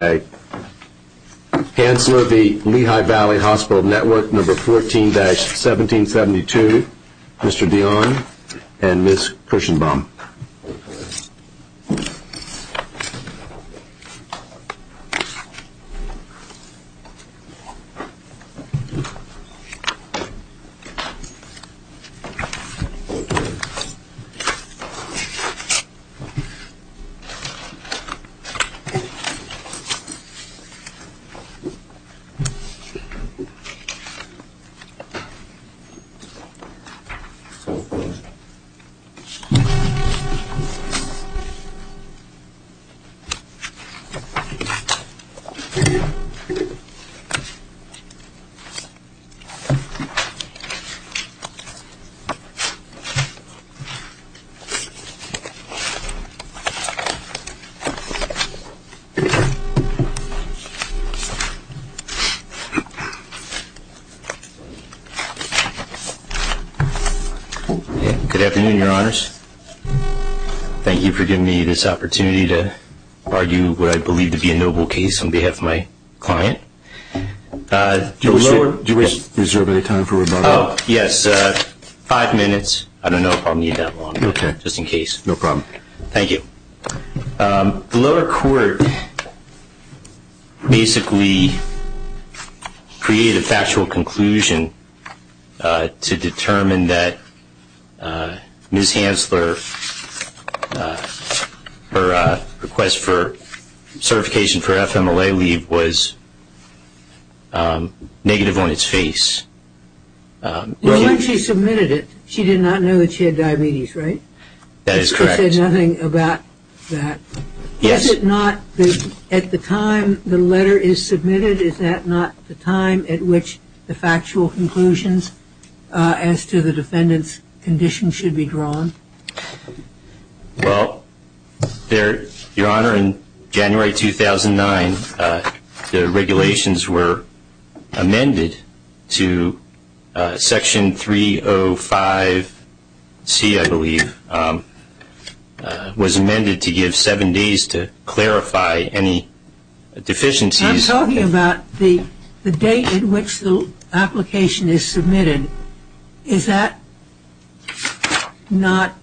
number 14-1772, Mr. Dionne and Ms. Cushenbaum. Good afternoon, your honors. Thank you for giving me this opportunity to argue what I believe to be a noble case on behalf of my client. Do you wish to reserve any time for rebuttal? Oh, yes. Five minutes. I don't know if I'll need that long. Okay. Just in case. No problem. Thank you. The lower court basically created a factual conclusion to determine that Ms. Hansler, her request for certification for FMLA leave was negative on its face. Well, when she submitted it, she did not know that she had diabetes, right? That is correct. It said nothing about that. Yes. Is it not at the time the letter is submitted, is that not the time at which the factual conclusions as to the defendant's condition should be drawn? Well, your honor, in January 2009, the regulations were amended to section 305C, I believe, was amended to give seven days to clarify any deficiencies. I'm talking about the date at which the application is submitted. Is that not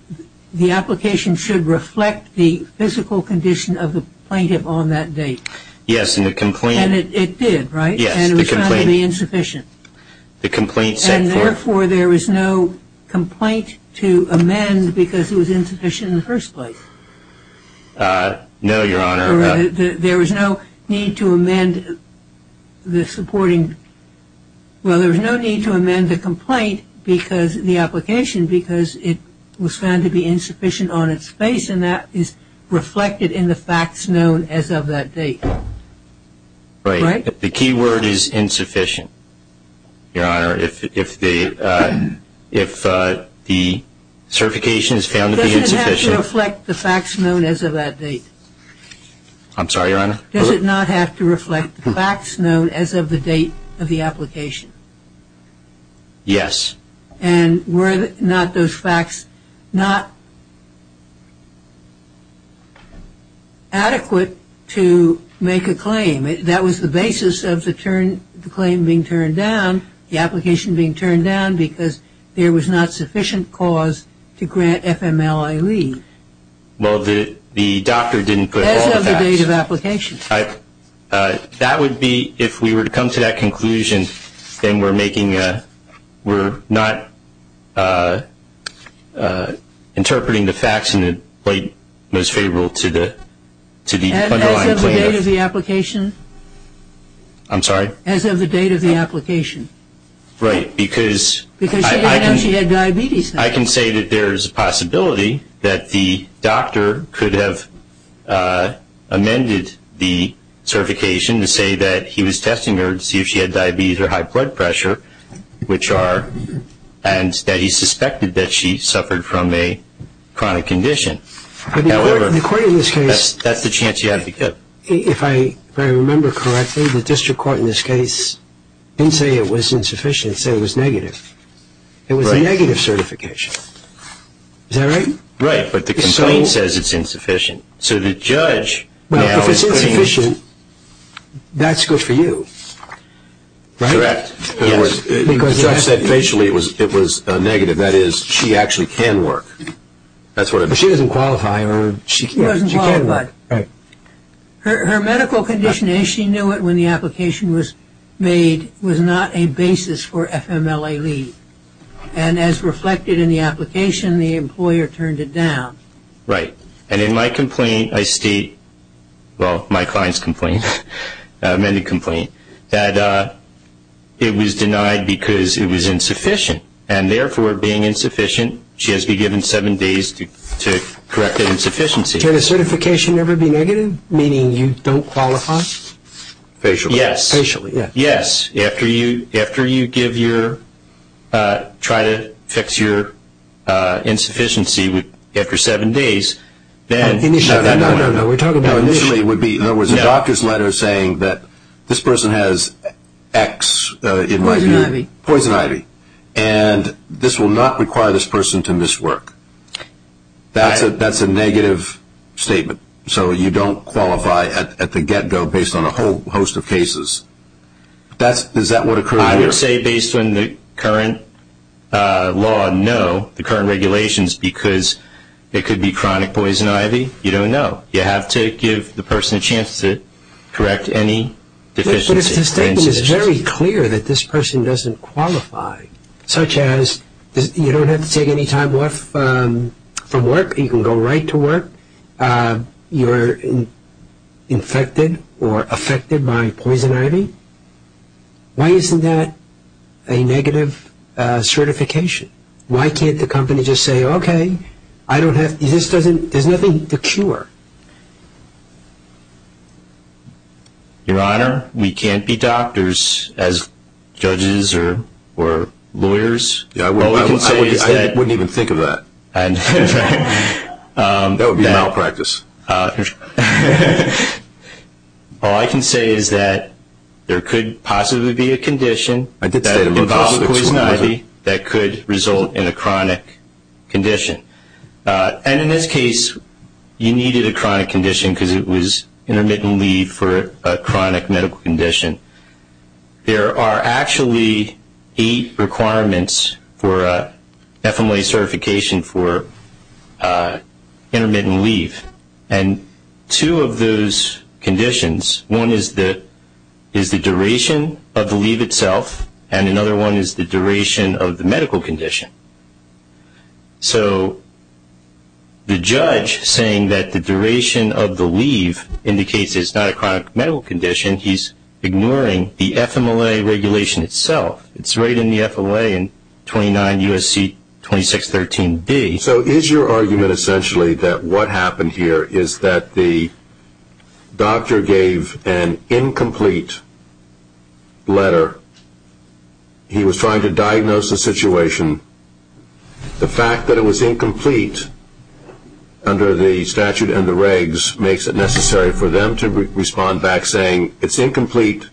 the application should reflect the physical condition of the plaintiff on that date? Yes, and the complaint. And it did, right? Yes, the complaint. And it was found to be insufficient. The complaint set forth. And therefore, there is no complaint to amend because it was insufficient in the first place? No, your honor. There was no need to amend the supporting. Well, there was no need to amend the complaint because the application because it was found to be insufficient on its face, and that is reflected in the facts known as of that date. Right. The key word is insufficient, your honor, if the certification is found to be insufficient. Does it reflect the facts known as of that date? I'm sorry, your honor? Does it not have to reflect the facts known as of the date of the application? Yes. And were not those facts not adequate to make a claim? That was the basis of the claim being turned down, the application being turned down, because there was not sufficient cause to grant FMLA leave. Well, the doctor didn't put all the facts. As of the date of application. That would be, if we were to come to that conclusion, then we're making a, we're not interpreting the facts in the most favorable to the underlying claim. As of the date of the application? I'm sorry? As of the date of the application. Right, because I can say that there is a possibility that the doctor could have amended the certification to say that he was testing her to see if she had diabetes or high blood pressure, which are, and that he suspected that she suffered from a chronic condition. However, that's the chance you have to give. If I remember correctly, the district court in this case didn't say it was insufficient, it said it was negative. It was a negative certification. Is that right? Right, but the complaint says it's insufficient. So the judge now is putting. Well, if it's insufficient, that's good for you, right? Correct. In other words, the judge said facially it was negative. That is, she actually can work. That's what it means. But she doesn't qualify. She doesn't qualify. Right. Her medical condition, and she knew it when the application was made, was not a basis for FMLA leave. And as reflected in the application, the employer turned it down. Right. And in my complaint, I state, well, my client's complaint, amended complaint, that it was denied because it was insufficient. And therefore, being insufficient, she has to be given seven days to correct that insufficiency. Can a certification never be negative, meaning you don't qualify? Facially. Yes. Facially, yes. Yes, after you give your, try to fix your insufficiency after seven days, then. No, no, no. We're talking about. No, initially it would be, in other words, a doctor's letter saying that this person has X in my view. Poison ivy. Poison ivy. And this will not require this person to miss work. That's a negative statement. So you don't qualify at the get-go based on a whole host of cases. Is that what occurs here? I would say based on the current law, no. The current regulations, because it could be chronic poison ivy, you don't know. You have to give the person a chance to correct any deficiency. But if the statement is very clear that this person doesn't qualify, such as you don't have to take any time off from work, you can go right to work, you're infected or affected by poison ivy, why isn't that a negative certification? Why can't the company just say, okay, I don't have, this doesn't, there's nothing to cure. Your Honor, we can't be doctors as judges or lawyers. I wouldn't even think of that. That would be malpractice. All I can say is that there could possibly be a condition that involves poison ivy that could result in a chronic condition. And in this case, you needed a chronic condition because it was intermittent leave for a chronic medical condition. There are actually eight requirements for FMLA certification for intermittent leave. And two of those conditions, one is the duration of the leave itself, and another one is the duration of the medical condition. So the judge saying that the duration of the leave indicates it's not a chronic medical condition, he's ignoring the FMLA regulation itself. It's right in the FMLA in 29 U.S.C. 2613d. So is your argument essentially that what happened here is that the doctor gave an incomplete letter, he was trying to diagnose the situation, the fact that it was incomplete under the statute and the regs makes it necessary for them to respond back saying, it's incomplete,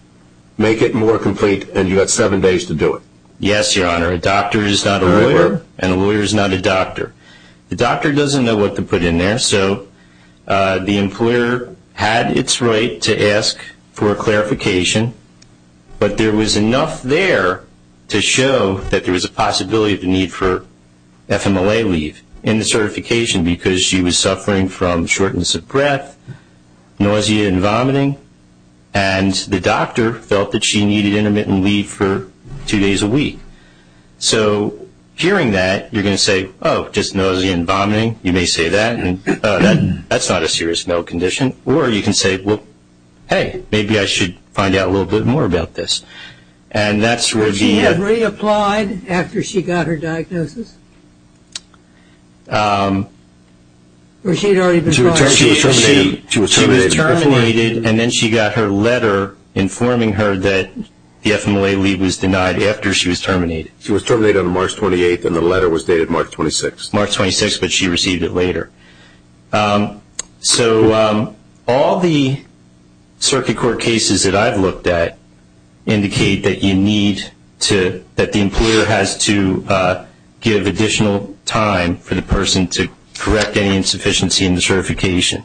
make it more complete, and you've got seven days to do it? Yes, Your Honor. A doctor is not a lawyer, and a lawyer is not a doctor. The doctor doesn't know what to put in there, so the employer had its right to ask for a clarification, but there was enough there to show that there was a possibility of the need for FMLA leave in the certification because she was suffering from shortness of breath, nausea and vomiting, and the doctor felt that she needed intermittent leave for two days a week. So hearing that, you're going to say, oh, just nausea and vomiting. You may say that, and that's not a serious medical condition. Or you can say, well, hey, maybe I should find out a little bit more about this. Would she have reapplied after she got her diagnosis? She was terminated, and then she got her letter informing her that the FMLA leave was denied after she was terminated. She was terminated on March 28th, and the letter was dated March 26th. March 26th, but she received it later. So all the circuit court cases that I've looked at indicate that you need to – that the employer has to give additional time for the person to correct any insufficiency in the certification.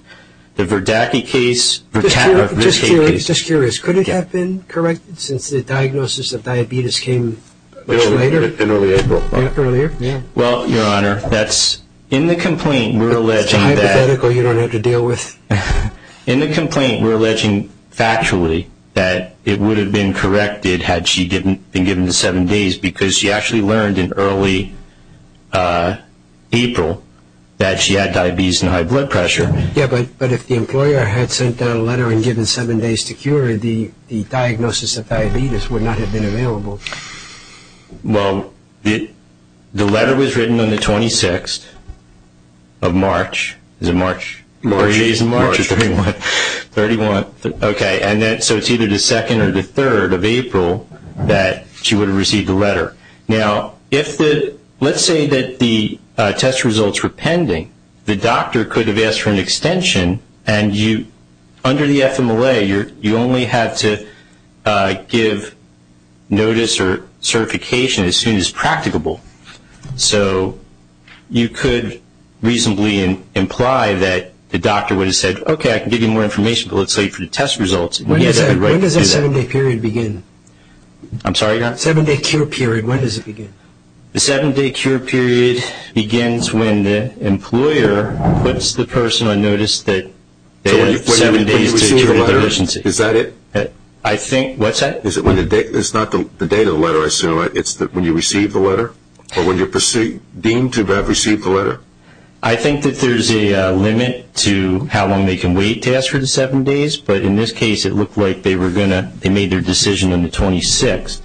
The Verdaki case – Just curious. Could it have been corrected since the diagnosis of diabetes came much later? In early April. Yeah, earlier. Well, Your Honor, that's – in the complaint, we're alleging that – It's hypothetical. You don't have to deal with – In the complaint, we're alleging factually that it would have been corrected had she been given the seven days because she actually learned in early April that she had diabetes and high blood pressure. Yeah, but if the employer had sent down a letter and given seven days to cure, the diagnosis of diabetes would not have been available. Well, the letter was written on the 26th of March. Is it March? March. It is March of 31. March. 31. Okay. So it's either the 2nd or the 3rd of April that she would have received the letter. Now, if the – let's say that the test results were pending. The doctor could have asked for an extension, and under the FMLA, you only have to give notice or certification as soon as practicable. So you could reasonably imply that the doctor would have said, okay, I can give you more information, but let's wait for the test results. When does that seven-day period begin? I'm sorry, Your Honor? Seven-day cure period, when does it begin? The seven-day cure period begins when the employer puts the person on notice that they have seven days to cure their deficiency. Is that it? I think – what's that? It's not the date of the letter, I assume. It's when you receive the letter or when you're deemed to have received the letter? I think that there's a limit to how long they can wait to ask for the seven days, but in this case, it looked like they were going to – they made their decision on the 26th.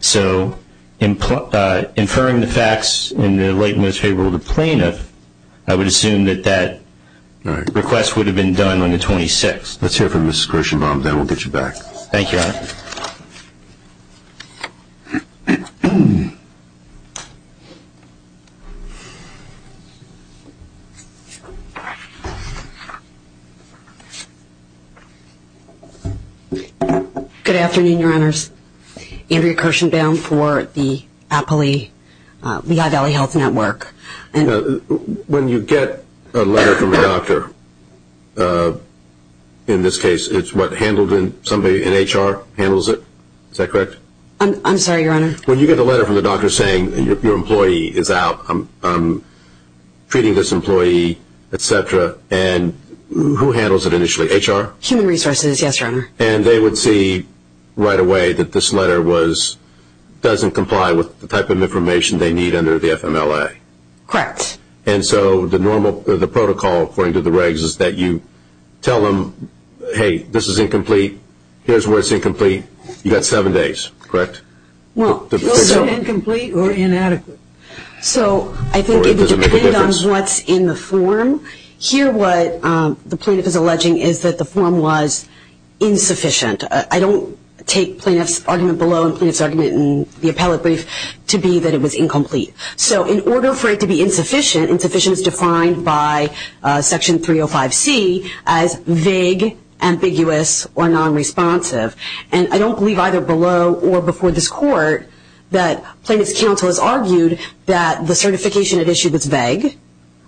So inferring the facts in the light and most favorable of the plaintiff, I would assume that that request would have been done on the 26th. Let's hear from Ms. Kirshenbaum, then we'll get you back. Thank you, Your Honor. Good afternoon, Your Honors. I'm Andrea Kirshenbaum for the Appalachia – Lehigh Valley Health Network. When you get a letter from a doctor, in this case it's what handled in – somebody in HR handles it? Is that correct? I'm sorry, Your Honor? When you get a letter from a doctor saying your employee is out, I'm treating this employee, et cetera, and who handles it initially, HR? Human Resources, yes, Your Honor. And they would see right away that this letter was – doesn't comply with the type of information they need under the FMLA? Correct. And so the normal – the protocol according to the regs is that you tell them, hey, this is incomplete, here's where it's incomplete, you've got seven days, correct? Well, incomplete or inadequate. So I think it would depend on what's in the form. Here what the plaintiff is alleging is that the form was insufficient. I don't take plaintiff's argument below and plaintiff's argument in the appellate brief to be that it was incomplete. So in order for it to be insufficient, insufficient is defined by Section 305C as vague, ambiguous, or nonresponsive. And I don't believe either below or before this court that plaintiff's counsel has argued that the certification at issue was vague,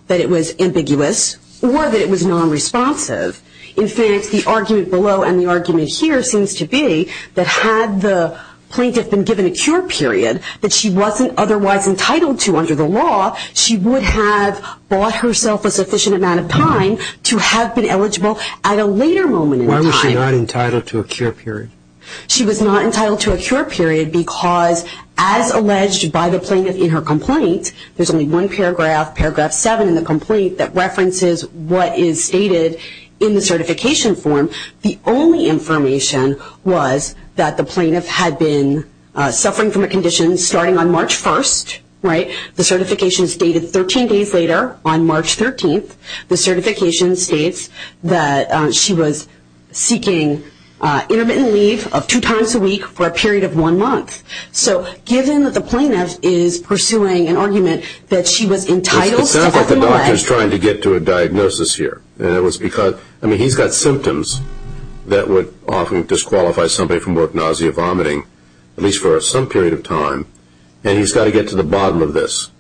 that it was ambiguous, or that it was nonresponsive. In fact, the argument below and the argument here seems to be that had the plaintiff been given a cure period that she wasn't otherwise entitled to under the law, she would have bought herself a sufficient amount of time to have been eligible at a later moment in time. Why was she not entitled to a cure period? She was not entitled to a cure period because, as alleged by the plaintiff in her complaint, there's only one paragraph, Paragraph 7 in the complaint, that references what is stated in the certification form. The only information was that the plaintiff had been suffering from a condition starting on March 1st. The certification is dated 13 days later on March 13th. The certification states that she was seeking intermittent leave of two times a week for a period of one month. So given that the plaintiff is pursuing an argument that she was entitled to up and away. It sounds like the doctor is trying to get to a diagnosis here. I mean, he's got symptoms that would often disqualify somebody from work, nausea, vomiting, at least for some period of time, and he's got to get to the bottom of this.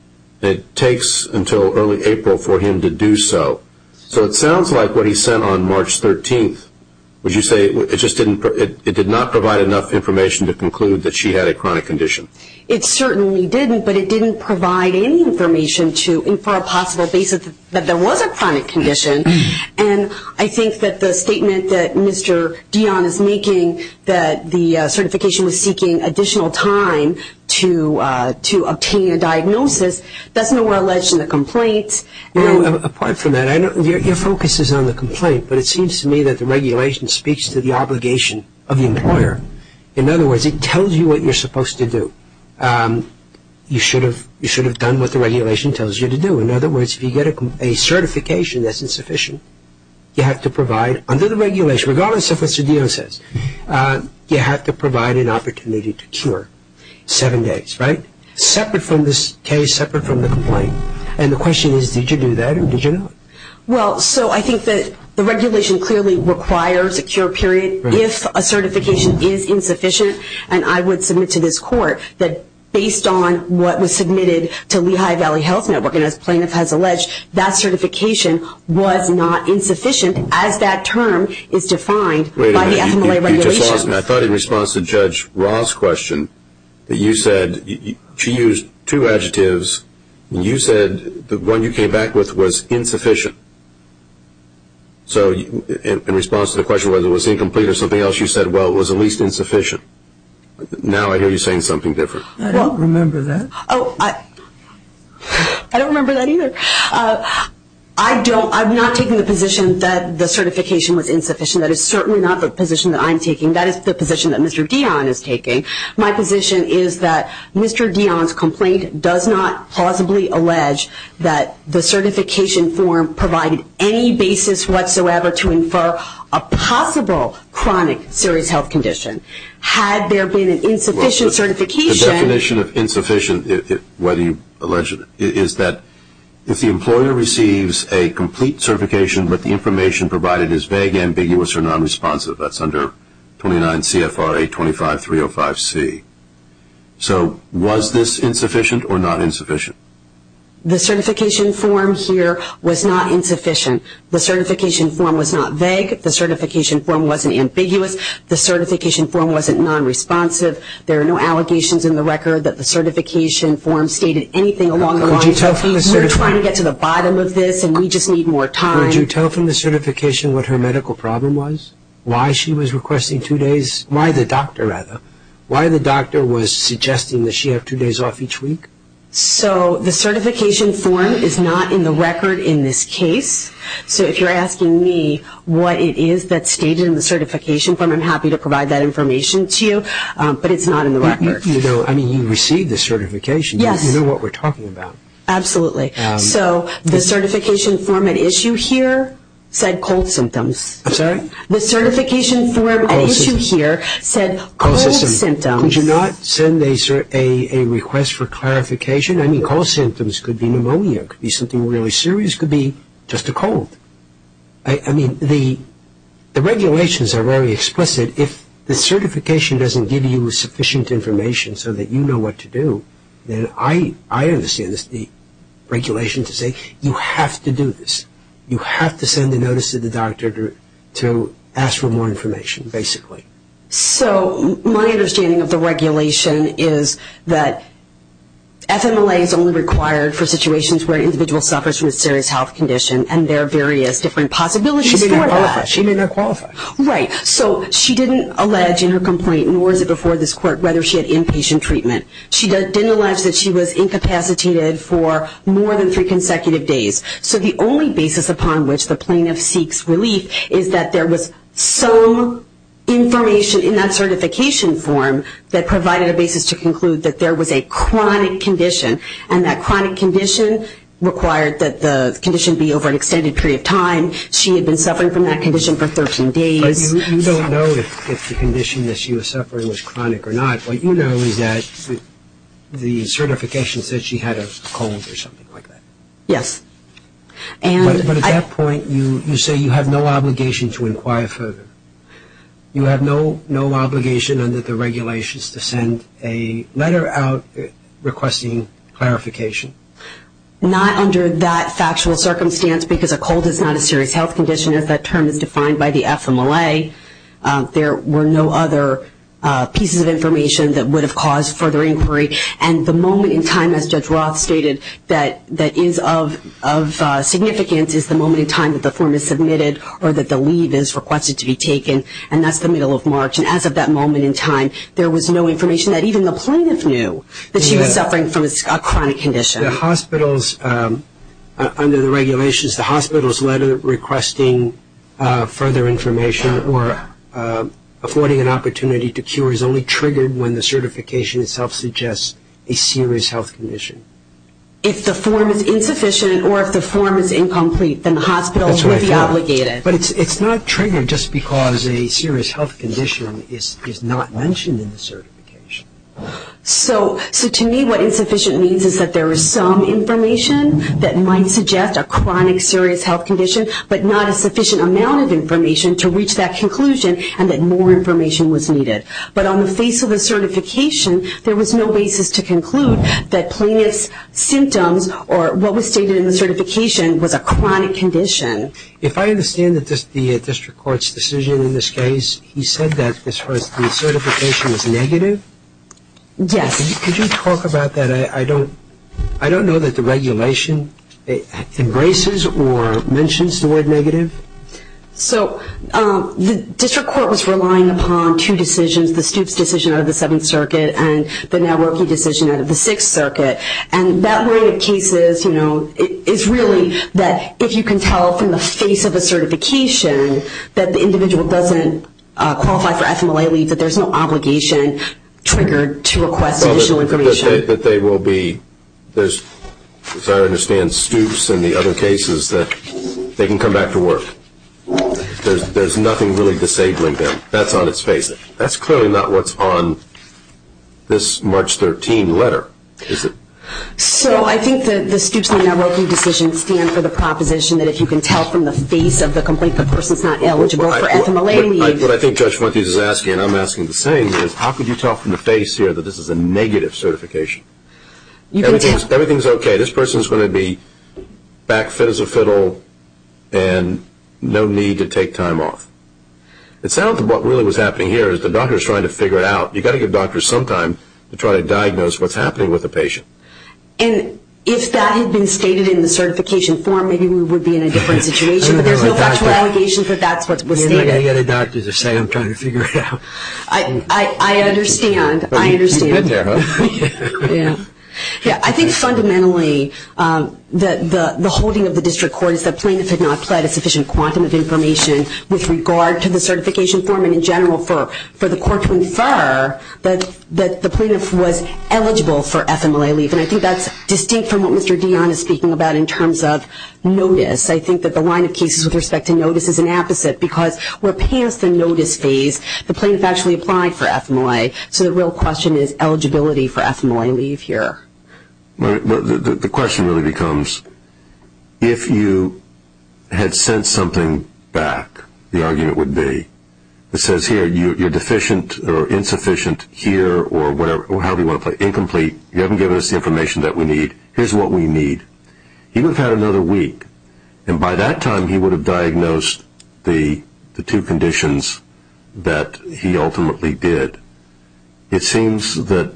It takes until early April for him to do so. So it sounds like what he sent on March 13th, would you say it just didn't – that she had a chronic condition? It certainly didn't, but it didn't provide any information for a possible basis that there was a chronic condition. And I think that the statement that Mr. Dionne is making that the certification was seeking additional time to obtain a diagnosis, that's nowhere alleged in the complaint. You know, apart from that, your focus is on the complaint, but it seems to me that the regulation speaks to the obligation of the employer. In other words, it tells you what you're supposed to do. You should have done what the regulation tells you to do. In other words, if you get a certification that's insufficient, you have to provide, under the regulation, regardless of what Mr. Dionne says, you have to provide an opportunity to cure. Seven days, right? Separate from this case, separate from the complaint. And the question is, did you do that or did you not? Well, so I think that the regulation clearly requires a cure period if a certification is insufficient. And I would submit to this court that based on what was submitted to Lehigh Valley Health Network, and as plaintiff has alleged, that certification was not insufficient as that term is defined by the FMLA regulation. Wait a minute. You just lost me. I thought in response to Judge Ra's question that you said – she used two adjectives. You said the one you came back with was insufficient. So in response to the question whether it was incomplete or something else, you said, well, it was at least insufficient. Now I hear you saying something different. I don't remember that. Oh, I don't remember that either. I don't – I'm not taking the position that the certification was insufficient. That is certainly not the position that I'm taking. That is the position that Mr. Dionne is taking. My position is that Mr. Dionne's complaint does not plausibly allege that the certification form provided any basis whatsoever to infer a possible chronic serious health condition. Had there been an insufficient certification – The definition of insufficient, whether you allege it, is that if the employer receives a complete certification but the information provided is vague, ambiguous, or nonresponsive. That's under 29 CFRA 25305C. So was this insufficient or not insufficient? The certification form here was not insufficient. The certification form was not vague. The certification form wasn't ambiguous. The certification form wasn't nonresponsive. There are no allegations in the record that the certification form stated anything along the lines of, I mean, we're trying to get to the bottom of this and we just need more time. Would you tell from the certification what her medical problem was? Why she was requesting two days? Why the doctor, rather? Why the doctor was suggesting that she have two days off each week? So the certification form is not in the record in this case. So if you're asking me what it is that's stated in the certification form, I'm happy to provide that information to you, but it's not in the record. I mean, you received the certification. Yes. You know what we're talking about. Absolutely. So the certification form at issue here said cold symptoms. I'm sorry? The certification form at issue here said cold symptoms. Could you not send a request for clarification? I mean, cold symptoms could be pneumonia. It could be something really serious. It could be just a cold. I mean, the regulations are very explicit. If the certification doesn't give you sufficient information so that you know what to do, then I understand the regulation to say you have to do this. You have to send a notice to the doctor to ask for more information, basically. So my understanding of the regulation is that FMLA is only required for situations where an individual suffers from a serious health condition and there are various different possibilities for that. She may not qualify. Right. So she didn't allege in her complaint, nor is it before this court, whether she had inpatient treatment. She didn't allege that she was incapacitated for more than three consecutive days. So the only basis upon which the plaintiff seeks relief is that there was some information in that certification form that provided a basis to conclude that there was a chronic condition, and that chronic condition required that the condition be over an extended period of time. She had been suffering from that condition for 13 days. You don't know if the condition that she was suffering was chronic or not. What you know is that the certification said she had a cold or something like that. Yes. But at that point, you say you have no obligation to inquire further. You have no obligation under the regulations to send a letter out requesting clarification. Not under that factual circumstance because a cold is not a serious health condition, as that term is defined by the FMLA. There were no other pieces of information that would have caused further inquiry. And the moment in time, as Judge Roth stated, that is of significance is the moment in time that the form is submitted or that the leave is requested to be taken, and that's the middle of March. And as of that moment in time, there was no information that even the plaintiff knew that she was suffering from a chronic condition. Under the regulations, the hospital's letter requesting further information or affording an opportunity to cure is only triggered when the certification itself suggests a serious health condition. If the form is insufficient or if the form is incomplete, then the hospital will be obligated. But it's not triggered just because a serious health condition is not mentioned in the certification. So to me, what insufficient means is that there is some information that might suggest a chronic serious health condition, but not a sufficient amount of information to reach that conclusion and that more information was needed. But on the face of the certification, there was no basis to conclude that plaintiff's symptoms or what was stated in the certification was a chronic condition. If I understand the district court's decision in this case, he said that the certification was negative? Yes. Could you talk about that? I don't know that the regulation embraces or mentions the word negative. So the district court was relying upon two decisions, the Stoops decision out of the Seventh Circuit and that way of cases is really that if you can tell from the face of a certification that the individual doesn't qualify for FMLA leave, that there's no obligation triggered to request additional information. That they will be, as far as I understand, Stoops and the other cases that they can come back to work. There's nothing really disabling them. That's on its face. That's clearly not what's on this March 13 letter, is it? So I think the Stoops and the networking decision stands for the proposition that if you can tell from the face of the complaint the person's not eligible for FMLA leave. What I think Judge Fuentes is asking, and I'm asking the same, is how could you tell from the face here that this is a negative certification? Everything's okay. This person's going to be back fit as a fiddle and no need to take time off. It sounds like what really was happening here is the doctor's trying to figure it out. You've got to give doctors some time to try to diagnose what's happening with the patient. And if that had been stated in the certification form, maybe we would be in a different situation, but there's no factual allegation that that's what was stated. You're not going to get a doctor to say, I'm trying to figure it out. I understand. You've been there, huh? Yeah. I think fundamentally the holding of the district court is that plaintiffs had not pled a sufficient quantum of information with regard to the certification form and in general for the court to infer that the plaintiff was eligible for FMLA leave. And I think that's distinct from what Mr. Dionne is speaking about in terms of notice. I think that the line of cases with respect to notice is an opposite because we're past the notice phase. The plaintiff actually applied for FMLA. So the real question is eligibility for FMLA leave here. The question really becomes if you had sent something back, the argument would be, it says here you're deficient or insufficient here or whatever, or however you want to put it, incomplete. You haven't given us the information that we need. Here's what we need. He would have had another week, and by that time he would have diagnosed the two conditions that he ultimately did. It seems that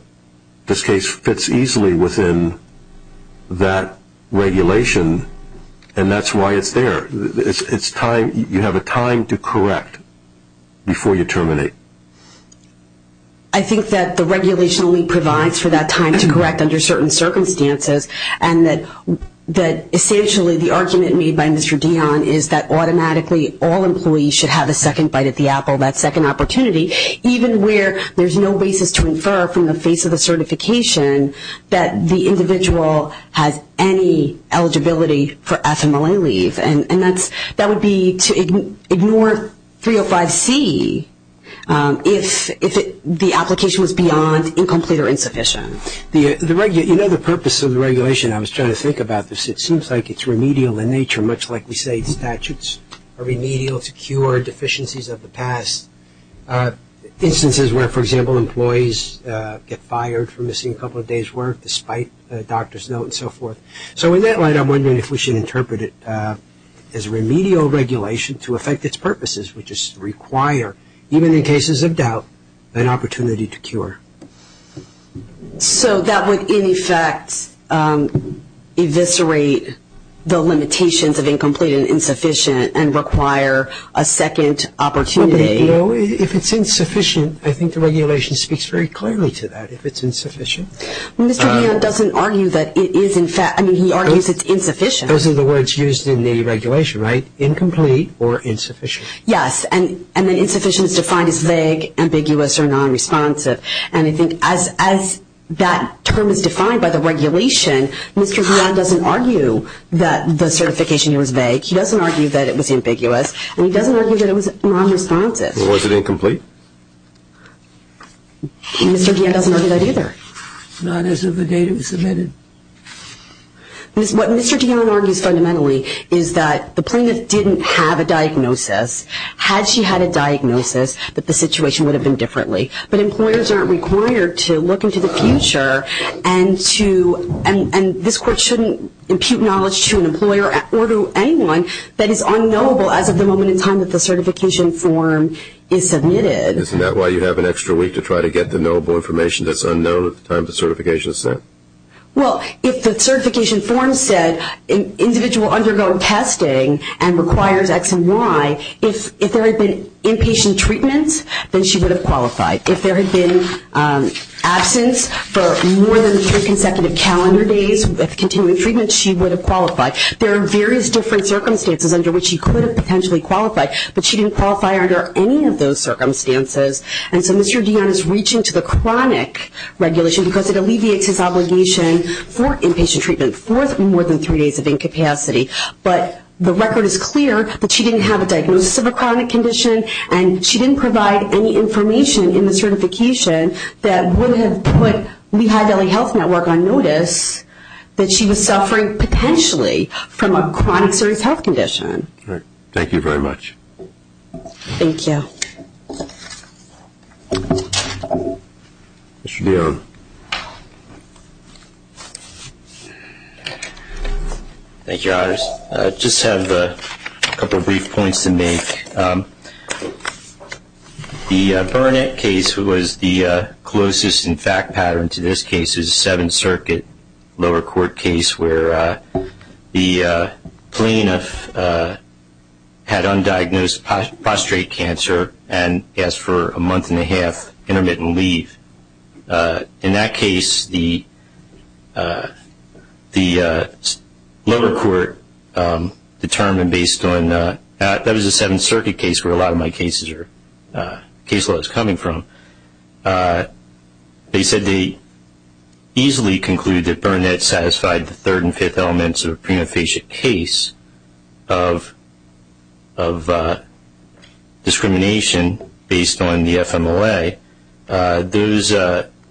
this case fits easily within that regulation, and that's why it's there. You have a time to correct before you terminate. I think that the regulation only provides for that time to correct under certain circumstances and that essentially the argument made by Mr. Dionne is that automatically all employees should have a second bite at the apple, that second opportunity, even where there's no basis to infer from the face of the certification that the individual has any eligibility for FMLA leave. And that would be to ignore 305C if the application was beyond incomplete or insufficient. You know, the purpose of the regulation, I was trying to think about this, it seems like it's remedial in nature, much like we say in statutes, a remedial to cure deficiencies of the past. Instances where, for example, employees get fired for missing a couple of days' work despite a doctor's note and so forth. So in that light, I'm wondering if we should interpret it as remedial regulation to affect its purposes, which is to require, even in cases of doubt, an opportunity to cure. So that would, in effect, eviscerate the limitations of incomplete and insufficient and require a second opportunity. You know, if it's insufficient, I think the regulation speaks very clearly to that, if it's insufficient. Mr. Dionne doesn't argue that it is, in fact, I mean, he argues it's insufficient. Those are the words used in the regulation, right? Incomplete or insufficient. Yes. And then insufficient is defined as vague, ambiguous, or nonresponsive. And I think as that term is defined by the regulation, Mr. Dionne doesn't argue that the certification was vague. He doesn't argue that it was ambiguous, and he doesn't argue that it was nonresponsive. Was it incomplete? Mr. Dionne doesn't argue that either. Not as of the date it was submitted. What Mr. Dionne argues fundamentally is that the plaintiff didn't have a diagnosis. Had she had a diagnosis, that the situation would have been differently. But employers aren't required to look into the future and this court shouldn't impute knowledge to an employer or to anyone that is unknowable as of the moment in time that the certification form is submitted. Isn't that why you have an extra week to try to get the knowable information that's unknown at the time the certification is sent? Well, if the certification form said an individual undergoes testing and requires X and Y, if there had been inpatient treatment, then she would have qualified. If there had been absence for more than three consecutive calendar days with continuing treatment, she would have qualified. There are various different circumstances under which she could have potentially qualified, but she didn't qualify under any of those circumstances. And so Mr. Dionne is reaching to the chronic regulation because it alleviates his obligation for inpatient treatment for more than three days of incapacity. But the record is clear that she didn't have a diagnosis of a chronic condition and she didn't provide any information in the certification that would have put Lehigh Valley Health Network on notice that she was suffering potentially from a chronic serious health condition. Thank you very much. Thank you. Mr. Dionne. Thank you, Your Honors. I just have a couple of brief points to make. The Burnett case was the closest in fact pattern to this case, a Seventh Circuit lower court case where the plaintiff had undiagnosed prostate cancer and asked for a month-and-a-half intermittent leave. In that case, the lower court determined based on the Seventh Circuit case, where a lot of my case laws are coming from, they said they easily concluded that Burnett satisfied the third and fifth elements of a premaphasic case of discrimination based on the FMLA. Those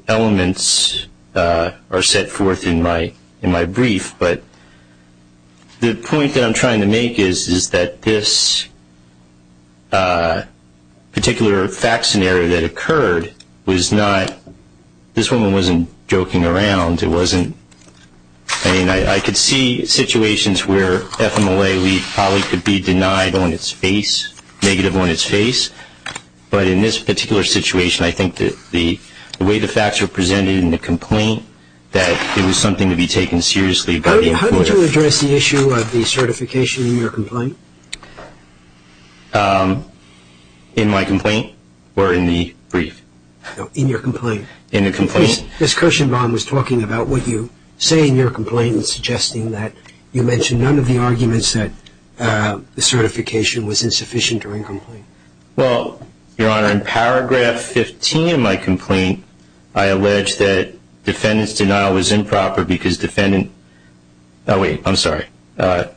elements are set forth in my brief, but the point that I'm trying to make is that this particular fact scenario that occurred was not, this woman wasn't joking around. It wasn't, I mean, I could see situations where FMLA leave probably could be denied on its face, negative on its face, but in this particular situation, I think that the way the facts were presented in the complaint that it was something to be taken seriously. How did you address the issue of the certification in your complaint? In my complaint or in the brief? No, in your complaint. In the complaint? Ms. Kirshenbaum was talking about what you say in your complaint and suggesting that you mention none of the arguments that the certification was insufficient or incomplete. Well, Your Honor, in paragraph 15 of my complaint, I allege that defendant's denial was improper because defendant, oh wait, I'm sorry,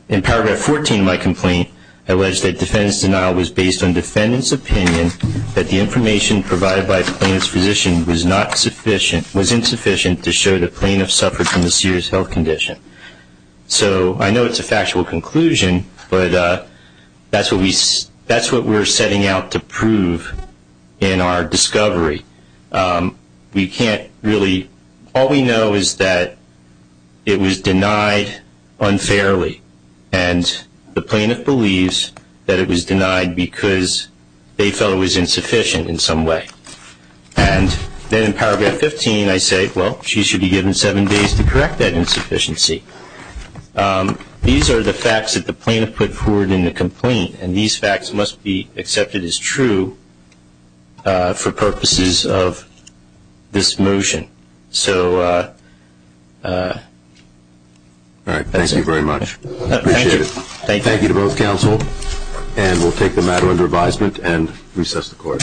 in paragraph 14 of my complaint, I allege that defendant's denial was based on defendant's opinion that the information provided by the plaintiff's physician was not sufficient, was insufficient to show the plaintiff suffered from a serious health condition. So I know it's a factual conclusion, but that's what we're setting out to prove in our discovery. We can't really, all we know is that it was denied unfairly, and the plaintiff believes that it was denied because they felt it was insufficient in some way. And then in paragraph 15, I say, well, she should be given seven days to correct that insufficiency. These are the facts that the plaintiff put forward in the complaint, and these facts must be accepted as true for purposes of this motion. So that's it. All right. Thank you very much. Appreciate it. Thank you. Thank you to both counsel, and we'll take the matter under advisement and recess the court.